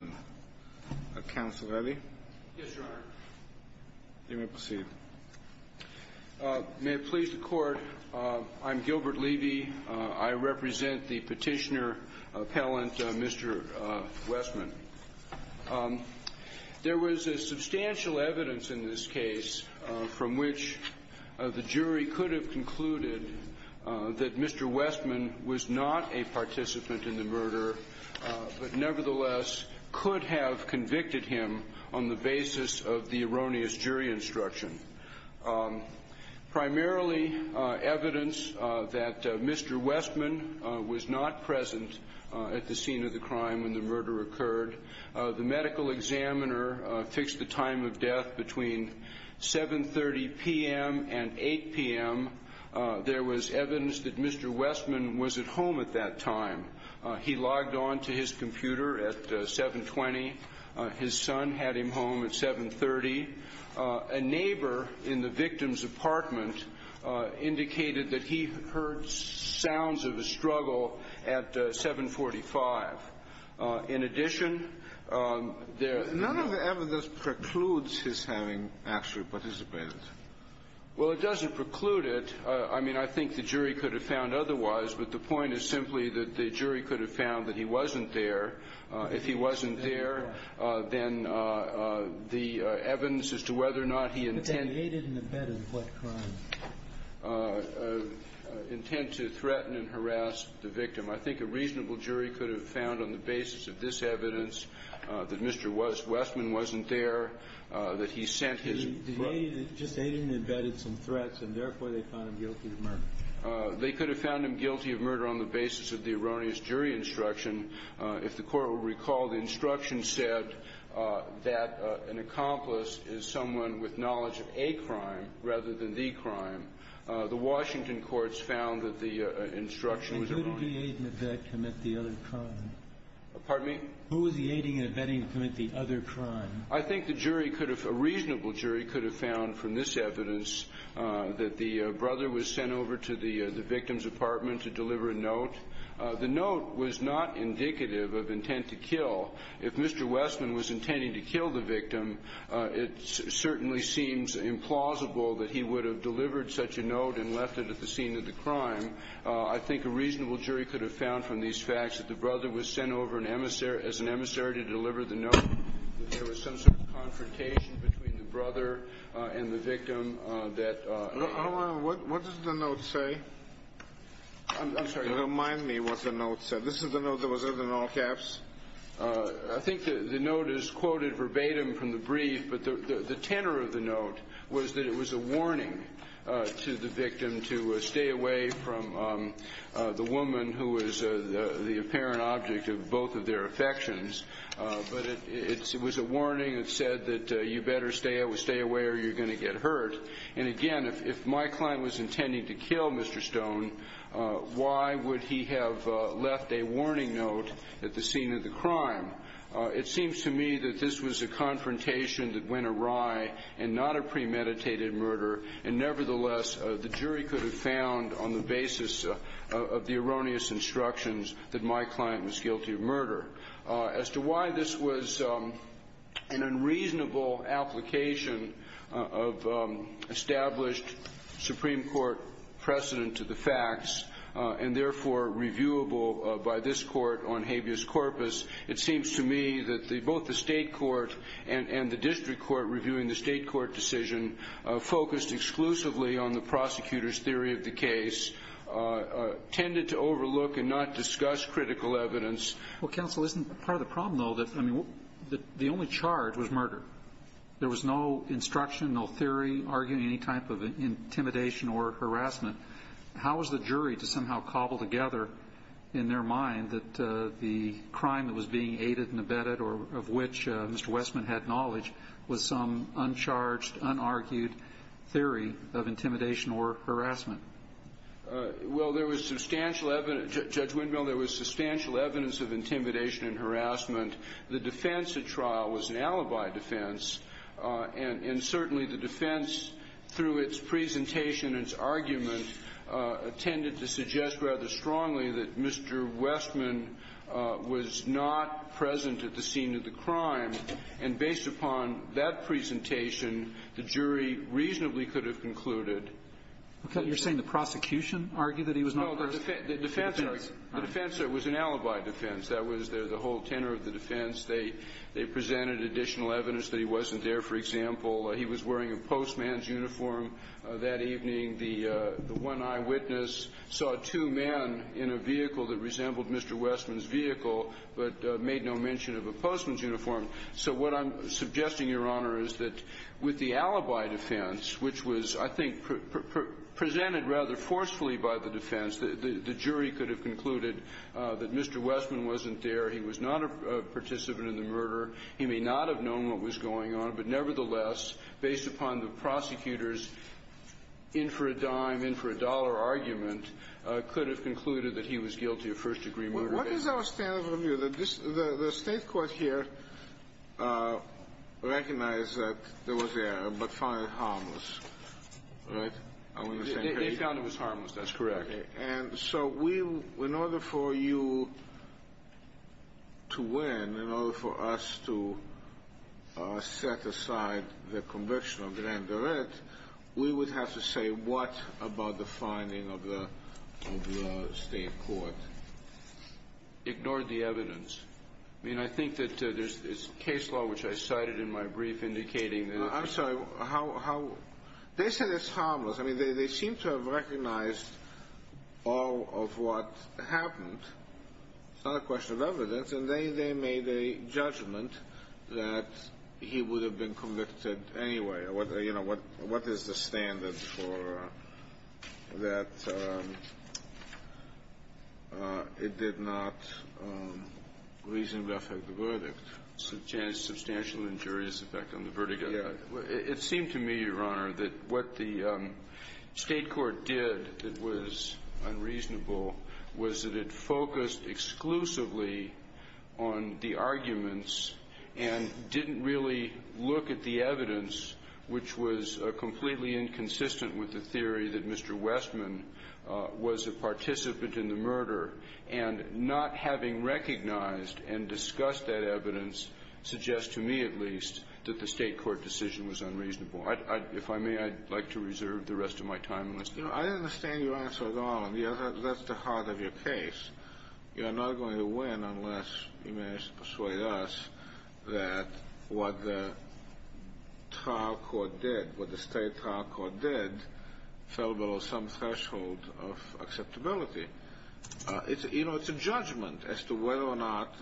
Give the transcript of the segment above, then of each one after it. May it please the Court, I'm Gilbert Levy. I represent the petitioner appellant Mr. Westman. There was substantial evidence in this case from which the jury could have concluded that Mr. Westman was not a participant in the murder, but nevertheless could have convicted him on the basis of the erroneous jury instruction. Primarily evidence that Mr. Westman was not present at the scene of the crime when the murder occurred. The medical examiner fixed the time of death between 7.30 p.m. and 8.00 p.m. There was evidence that Mr. Westman was at home at that time. He logged on to his computer at 7.20. His son had him home at 7.30. A neighbor in the victim's apartment indicated that he heard sounds of a struggle at 7.45. In addition, there – None of the evidence precludes his having actually participated. Well, it doesn't preclude it. I mean, I think the jury could have found otherwise, but the point is simply that the jury could have found that he wasn't there. If he wasn't there, then the evidence as to whether or not he intended – But they made it in the bed of what crime? Intent to threaten and harass the victim. I think a reasonable jury could have found on the basis of this evidence that Mr. Westman wasn't there, that he sent his – Just aiding and abetting some threats, and therefore they found him guilty of murder. They could have found him guilty of murder on the basis of the erroneous jury instruction. If the Court will recall, the instruction said that an accomplice is someone with knowledge of a crime rather than the crime. The Washington courts found that the instruction was erroneous. And couldn't the aiding and abetting commit the other crime? Pardon me? Who was the aiding and abetting to commit the other crime? I think the jury could have – a reasonable jury could have found from this evidence that the brother was sent over to the victim's apartment to deliver a note. The note was not indicative of intent to kill. If Mr. Westman was intending to kill the victim, it certainly seems implausible that he would have delivered such a note and left it at the scene of the crime. I think a reasonable jury could have found from these facts that the brother was sent over as an emissary to deliver the note. There was some sort of confrontation between the brother and the victim that – Hold on. What does the note say? I'm sorry. Remind me what the note said. This is the note that was in all caps? I think the note is quoted verbatim from the brief, but the tenor of the note was that it was a warning to the victim to stay away from the woman who was the apparent object of both of their affections. But it was a warning that said that you better stay away or you're going to get hurt. And again, if my client was intending to kill Mr. Stone, why would he have left a warning note at the scene of the crime? It seems to me that this was a confrontation that went awry and not a premeditated murder. And nevertheless, the jury could have found on the basis of the erroneous instructions that my client was guilty of murder. As to why this was an unreasonable application of established Supreme Court precedent to the facts and therefore reviewable by this court on habeas corpus, it seems to me that both the state court and the district court reviewing the state court decision focused exclusively on the prosecutor's theory of the case, tended to overlook and not discuss critical evidence. Well, counsel, isn't part of the problem, though, that the only charge was murder? There was no instruction, no theory arguing any type of intimidation or harassment. How was the jury to somehow cobble together in their mind that the crime that was being aided and abetted or of which Mr. Westman had knowledge was some uncharged, unargued theory of intimidation or harassment? Well, there was substantial evidence. Judge Windmill, there was substantial evidence of intimidation and harassment. The defense at trial was an alibi defense, and certainly the defense, through its presentation and its argument, tended to suggest rather strongly that Mr. Westman was not present at the scene of the crime. And based upon that presentation, the jury reasonably could have concluded. Okay. You're saying the prosecution argued that he was not present? No, the defense was an alibi defense. That was the whole tenor of the defense. They presented additional evidence that he wasn't there. For example, he was wearing a postman's uniform that evening. The one eyewitness saw two men in a vehicle that resembled Mr. Westman's vehicle but made no mention of a postman's uniform. So what I'm suggesting, Your Honor, is that with the alibi defense, which was, I think, presented rather forcefully by the defense, the jury could have concluded that Mr. Westman wasn't there, he was not a participant in the murder, he may not have known what was going on. But nevertheless, based upon the prosecutor's in-for-a-dime, in-for-a-dollar argument, could have concluded that he was guilty of first-degree murder. What is our standard of review? The State court here recognized that there was an error but found it harmless, right? They found it was harmless. That's correct. And so in order for you to win, in order for us to set aside the conviction of grand direct, we would have to say what about the finding of the State court? Ignored the evidence. I mean, I think that there's case law, which I cited in my brief, indicating that it was harmless. I'm sorry. They said it's harmless. I mean, they seem to have recognized all of what happened. It's not a question of evidence. And they made a judgment that he would have been convicted anyway. You know, what is the standard for that? It did not reasonably affect the verdict. Yes. It seemed to me, Your Honor, that what the State court did that was unreasonable was that it focused exclusively on the arguments and didn't really look at the evidence, which was completely inconsistent with the theory that Mr. Westman was a participant in the murder. And not having recognized and discussed that evidence suggests to me at least that the State court decision was unreasonable. If I may, I'd like to reserve the rest of my time. I understand your answer at all, and that's the heart of your case. You're not going to win unless you manage to persuade us that what the trial court did, what the State trial court did, fell below some threshold of acceptability. You know, it's a judgment as to whether or not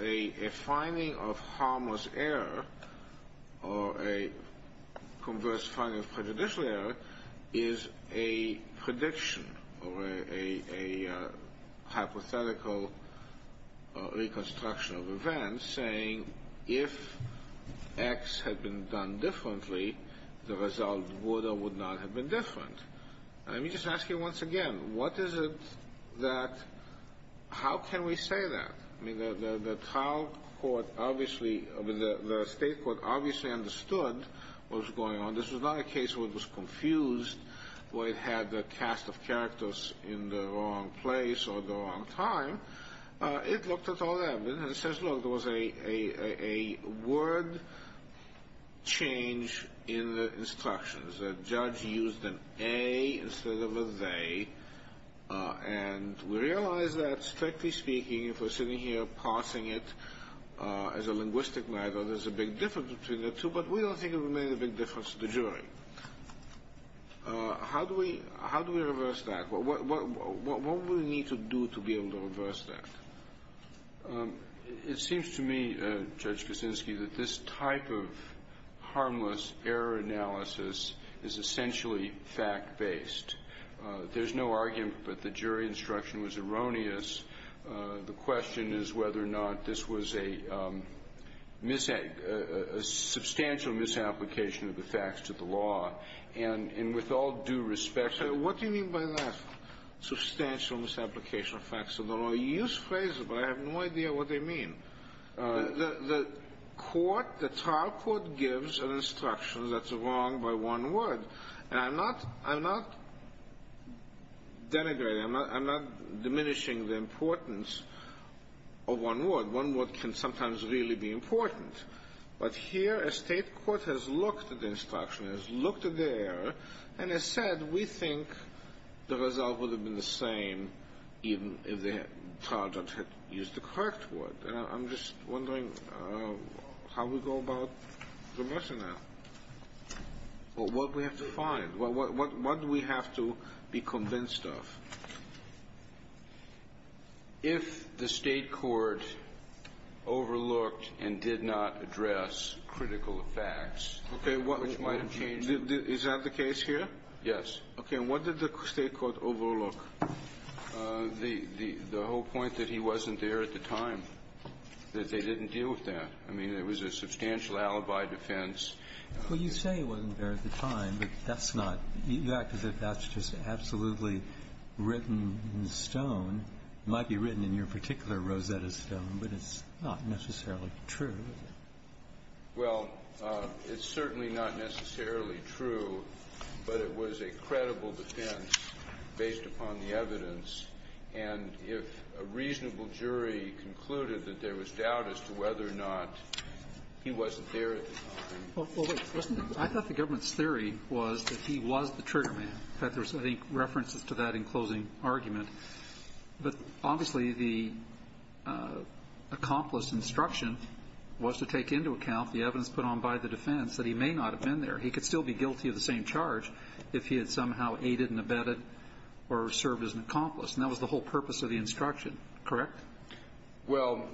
a finding of harmless error or a converse finding of prejudicial error is a prediction or a hypothetical reconstruction of events, saying if X had been done differently, the result would or would not have been different. Let me just ask you once again, what is it that – how can we say that? I mean, the trial court obviously – I mean, the State court obviously understood what was going on. This was not a case where it was confused, where it had the cast of characters in the wrong place or the wrong time. It looked at all that evidence and says, look, there was a word change in the instructions. The judge used an A instead of a they, and we realize that, strictly speaking, if we're sitting here parsing it as a linguistic matter, there's a big difference between the two, but we don't think it would make a big difference to the jury. How do we reverse that? What would we need to do to be able to reverse that? It seems to me, Judge Kuczynski, that this type of harmless error analysis is essentially fact-based. There's no argument that the jury instruction was erroneous. The question is whether or not this was a substantial misapplication of the facts to the law. And with all due respect to the law – I have no idea what they mean. The trial court gives an instruction that's wrong by one word, and I'm not denigrating, I'm not diminishing the importance of one word. One word can sometimes really be important. But here a state court has looked at the instruction, has looked at the error, and has said, we think the result would have been the same even if the trial judge had used the correct word. And I'm just wondering how we go about reversing that. What do we have to find? What do we have to be convinced of? If the state court overlooked and did not address critical facts, which might have changed it. Is that the case here? Yes. Okay. And what did the state court overlook? The whole point that he wasn't there at the time, that they didn't deal with that. I mean, there was a substantial alibi defense. Well, you say he wasn't there at the time, but that's not – you act as if that's just absolutely written in stone. It might be written in your particular Rosetta Stone, but it's not necessarily true, is it? Well, it's certainly not necessarily true, but it was a credible defense based upon the evidence. And if a reasonable jury concluded that there was doubt as to whether or not he wasn't there at the time. Well, wait. I thought the government's theory was that he was the trigger man. In fact, there's, I think, references to that in closing argument. But obviously, the accomplice instruction was to take into account the evidence put on by the defense that he may not have been there. He could still be guilty of the same charge if he had somehow aided and abetted or served as an accomplice. And that was the whole purpose of the instruction, correct? Well,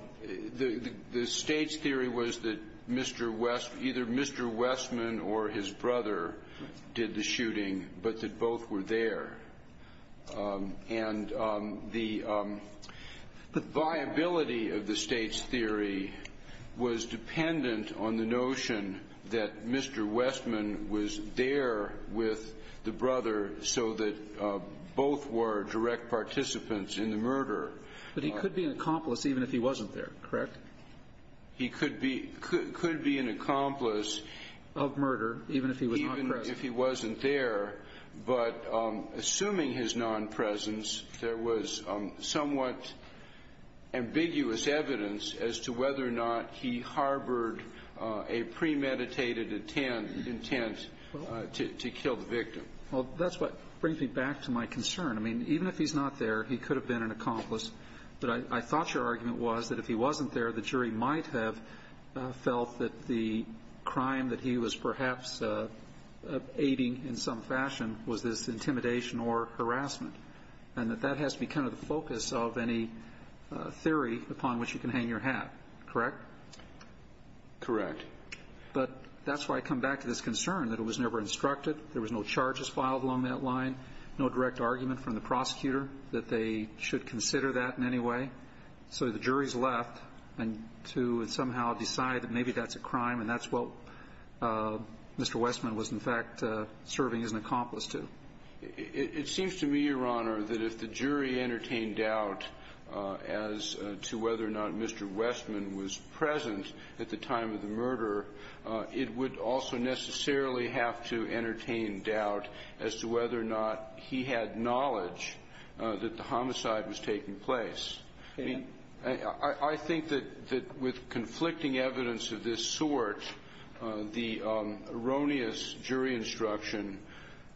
the State's theory was that Mr. West – either Mr. Westman or his brother did the shooting, but that both were there. And the viability of the State's theory was dependent on the notion that Mr. Westman was there with the brother so that both were direct participants in the murder. But he could be an accomplice even if he wasn't there, correct? He could be an accomplice of murder even if he was not present. Yes, if he wasn't there. But assuming his non-presence, there was somewhat ambiguous evidence as to whether or not he harbored a premeditated intent to kill the victim. Well, that's what brings me back to my concern. I mean, even if he's not there, he could have been an accomplice. But I thought your argument was that if he wasn't there, the jury might have felt that the crime that he was perhaps aiding in some fashion was this intimidation or harassment, and that that has to be kind of the focus of any theory upon which you can hang your hat, correct? Correct. But that's why I come back to this concern that it was never instructed. There was no charges filed along that line, no direct argument from the prosecutor that they should consider that in any way. So the jury's left to somehow decide that maybe that's a crime, and that's what Mr. Westman was in fact serving as an accomplice to. It seems to me, Your Honor, that if the jury entertained doubt as to whether or not Mr. Westman was present at the time of the murder, it would also necessarily have to entertain doubt as to whether or not he had knowledge that the homicide was taking place. I mean, I think that with conflicting evidence of this sort, the erroneous jury instruction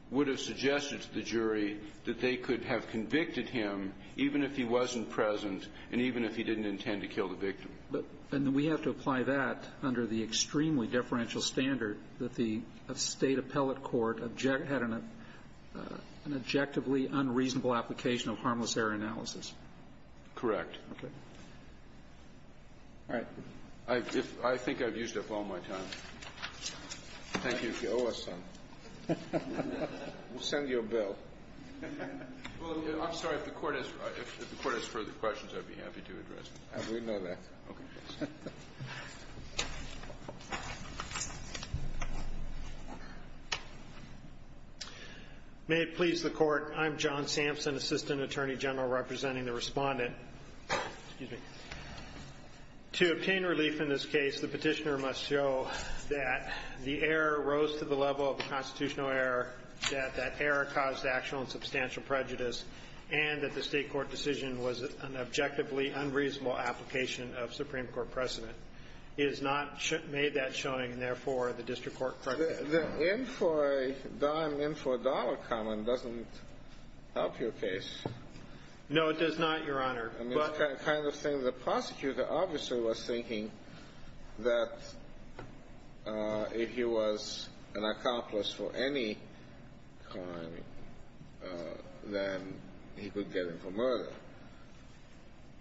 would have suggested to the jury that they could have convicted him even if he wasn't present and even if he didn't intend to kill the victim. And we have to apply that under the extremely deferential standard that the State has, an objectively unreasonable application of harmless error analysis. Correct. Okay. All right. I think I've used up all my time. Thank you. You owe us some. We'll send you a bill. Well, I'm sorry. If the Court has further questions, I'd be happy to address them. We know that. May it please the Court. I'm John Sampson, Assistant Attorney General, representing the Respondent. Excuse me. To obtain relief in this case, the Petitioner must show that the error rose to the level of the constitutional error, that that error caused actual and substantial prejudice, and that the State court decision was an objectively unreasonable application of Supreme Court precedent. It has not made that showing, and, therefore, the District Court corrected it. The in for a dime, in for a dollar comment doesn't help your case. No, it does not, Your Honor. I mean, it's the kind of thing the prosecutor obviously was thinking that if he was an accomplice for any crime, then he could get in for murder.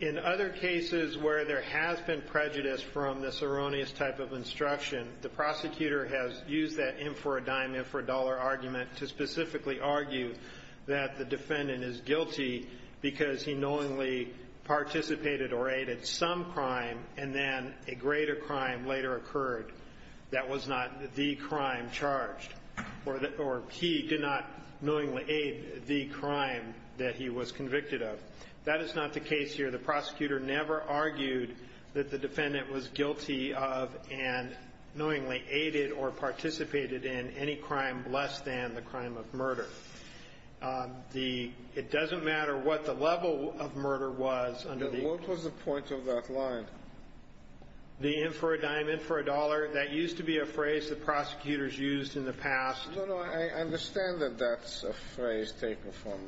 In other cases where there has been prejudice from this erroneous type of instruction, the prosecutor has used that in for a dime, in for a dollar argument to specifically argue that the defendant is guilty because he knowingly participated or aided some crime, and then a greater crime later occurred that was not the crime charged, or he did not knowingly aid the crime that he was convicted of. That is not the case here. The prosecutor never argued that the defendant was guilty of and knowingly aided or participated in any crime less than the crime of murder. It doesn't matter what the level of murder was under the ---- What was the point of that line? The in for a dime, in for a dollar, that used to be a phrase the prosecutors used in the past. No, no. I understand that that's a phrase taken from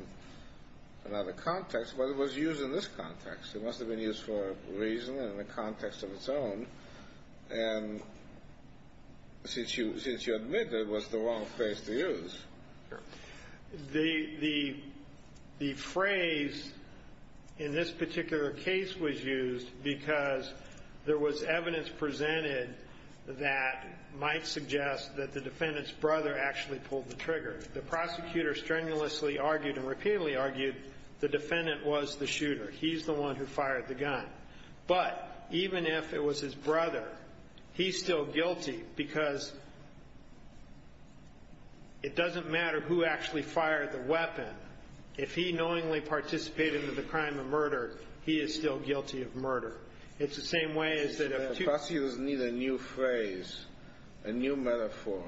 another context, but it was used in this context. It must have been used for a reason and in a context of its own, and since you admit that it was the wrong phrase to use. Sure. The phrase in this particular case was used because there was evidence presented that might suggest that the defendant's brother actually pulled the trigger. The prosecutor strenuously argued and repeatedly argued the defendant was the shooter. He's the one who fired the gun. But even if it was his brother, he's still guilty because it doesn't matter who actually fired the weapon. If he knowingly participated in the crime of murder, he is still guilty of murder. Prosecutors need a new phrase, a new metaphor.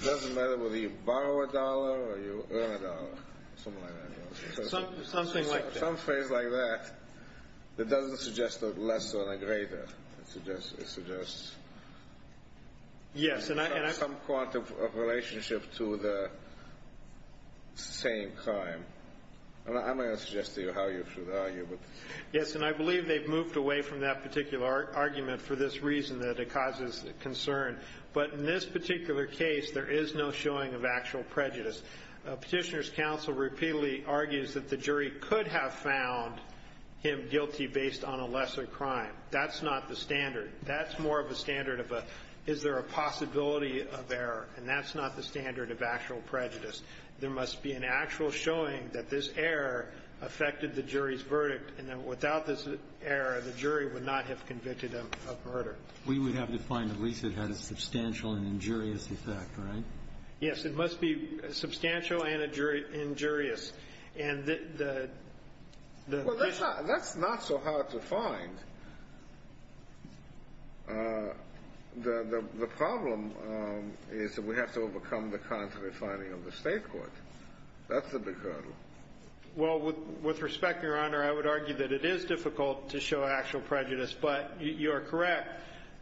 It doesn't matter whether you borrow a dollar or you earn a dollar. Something like that. Something like that. Some phrase like that that doesn't suggest a lesser and a greater. It suggests some quantum of relationship to the same crime. I'm not going to suggest to you how you should argue. Yes, and I believe they've moved away from that particular argument for this reason that it causes concern. But in this particular case, there is no showing of actual prejudice. Petitioner's counsel repeatedly argues that the jury could have found him guilty based on a lesser crime. That's not the standard. That's more of a standard of a, is there a possibility of error, and that's not the standard of actual prejudice. There must be an actual showing that this error affected the jury's verdict, and that without this error, the jury would not have convicted him of murder. We would have to find at least it had a substantial and injurious effect, right? Yes. It must be substantial and injurious. And the question of the jury. Well, that's not so hard to find. The problem is that we have to overcome the contrary finding of the state court. That's the big hurdle. Well, with respect, Your Honor, I would argue that it is difficult to show actual prejudice, but you are correct.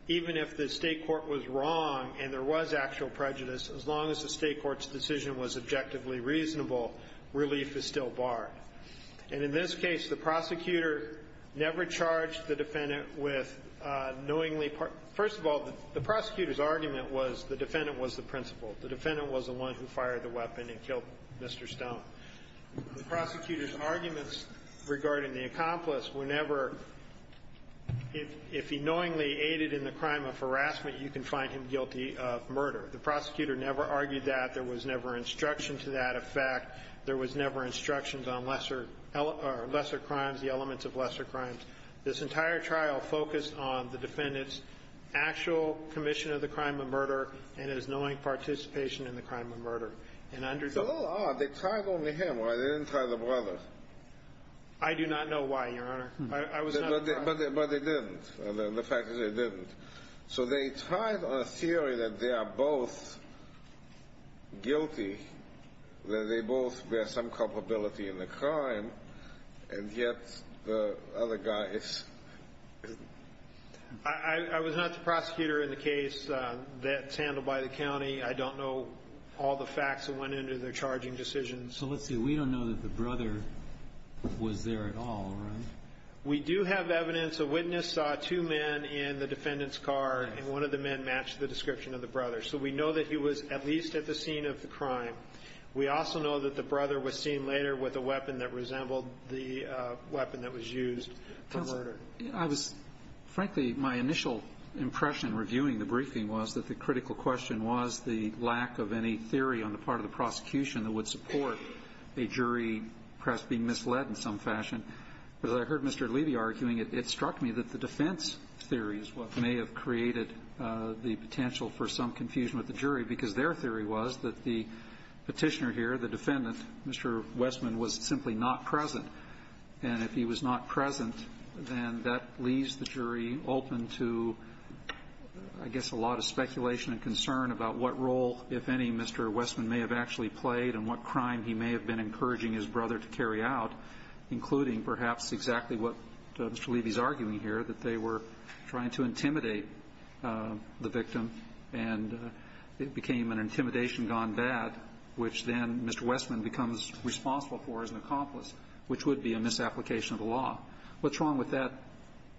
Even if the state court was wrong and there was actual prejudice, as long as the state court's decision was objectively reasonable, relief is still barred. And in this case, the prosecutor never charged the defendant with knowingly ---- first of all, the prosecutor's argument was the defendant was the principal. The defendant was the one who fired the weapon and killed Mr. Stone. The prosecutor's arguments regarding the accomplice were never, if he knowingly aided in the crime of harassment, you can find him guilty of murder. The prosecutor never argued that. There was never instruction to that effect. There was never instructions on lesser crimes, the elements of lesser crimes. This entire trial focused on the defendant's actual commission of the crime of murder and his knowing participation in the crime of murder. It's a little odd. They tried only him, right? They didn't try the brother. I do not know why, Your Honor. But they didn't. The fact is they didn't. So they tried on a theory that they are both guilty, that they both bear some culpability in the crime, and yet the other guy is. I was not the prosecutor in the case that's handled by the county. I don't know all the facts that went into their charging decision. So let's see, we don't know that the brother was there at all, right? We do have evidence. The witness saw two men in the defendant's car, and one of the men matched the description of the brother. So we know that he was at least at the scene of the crime. We also know that the brother was seen later with a weapon that resembled the weapon that was used for murder. Frankly, my initial impression reviewing the briefing was that the critical question was the lack of any theory on the part of the prosecution that would support a jury perhaps being misled in some fashion. But as I heard Mr. Levy arguing, it struck me that the defense theory is what may have created the potential for some confusion with the jury, because their theory was that the petitioner here, the defendant, Mr. Westman, was simply not present. And if he was not present, then that leaves the jury open to, I guess, a lot of speculation and concern about what role, if any, Mr. Westman may have actually played in the jury out, including perhaps exactly what Mr. Levy is arguing here, that they were trying to intimidate the victim, and it became an intimidation gone bad, which then Mr. Westman becomes responsible for as an accomplice, which would be a misapplication of the law. What's wrong with that?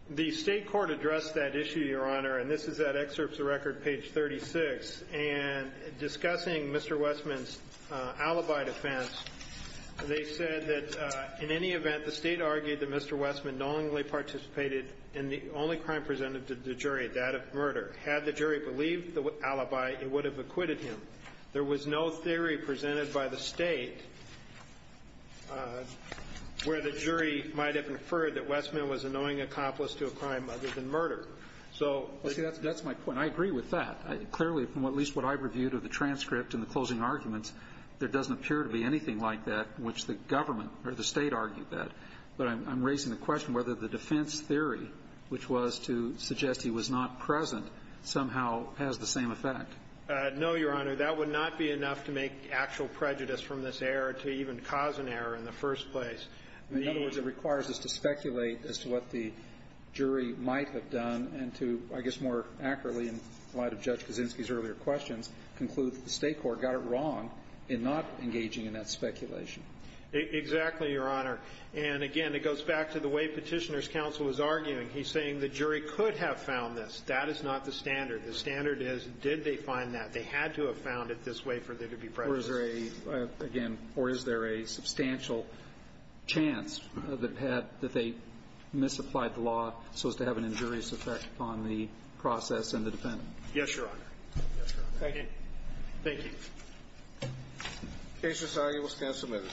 The state court addressed that issue, Your Honor, and this is at Excerpts of Record, page 36. And discussing Mr. Westman's alibi defense, they said that, in any event, the state argued that Mr. Westman knowingly participated in the only crime presented to the jury, that of murder. Had the jury believed the alibi, it would have acquitted him. There was no theory presented by the state where the jury might have inferred that Westman was a knowing accomplice to a crime other than murder. So the jury would have acquitted him. So at least what I've reviewed of the transcript and the closing arguments, there doesn't appear to be anything like that in which the government or the state argued that. But I'm raising the question whether the defense theory, which was to suggest he was not present, somehow has the same effect. No, Your Honor. That would not be enough to make actual prejudice from this error to even cause an error in the first place. In other words, it requires us to speculate as to what the jury might have done and to, I guess, more accurately, in light of Judge Kaczynski's earlier questions, conclude that the State court got it wrong in not engaging in that speculation. Exactly, Your Honor. And, again, it goes back to the way Petitioner's counsel is arguing. He's saying the jury could have found this. That is not the standard. The standard is, did they find that? They had to have found it this way for there to be prejudice. Or is there a, again, or is there a substantial chance that they misapplied the law so as to have an injurious effect on the process and the defendant? Yes, Your Honor. Yes, Your Honor. Thank you. Thank you. The case is argued. We'll stand submitted.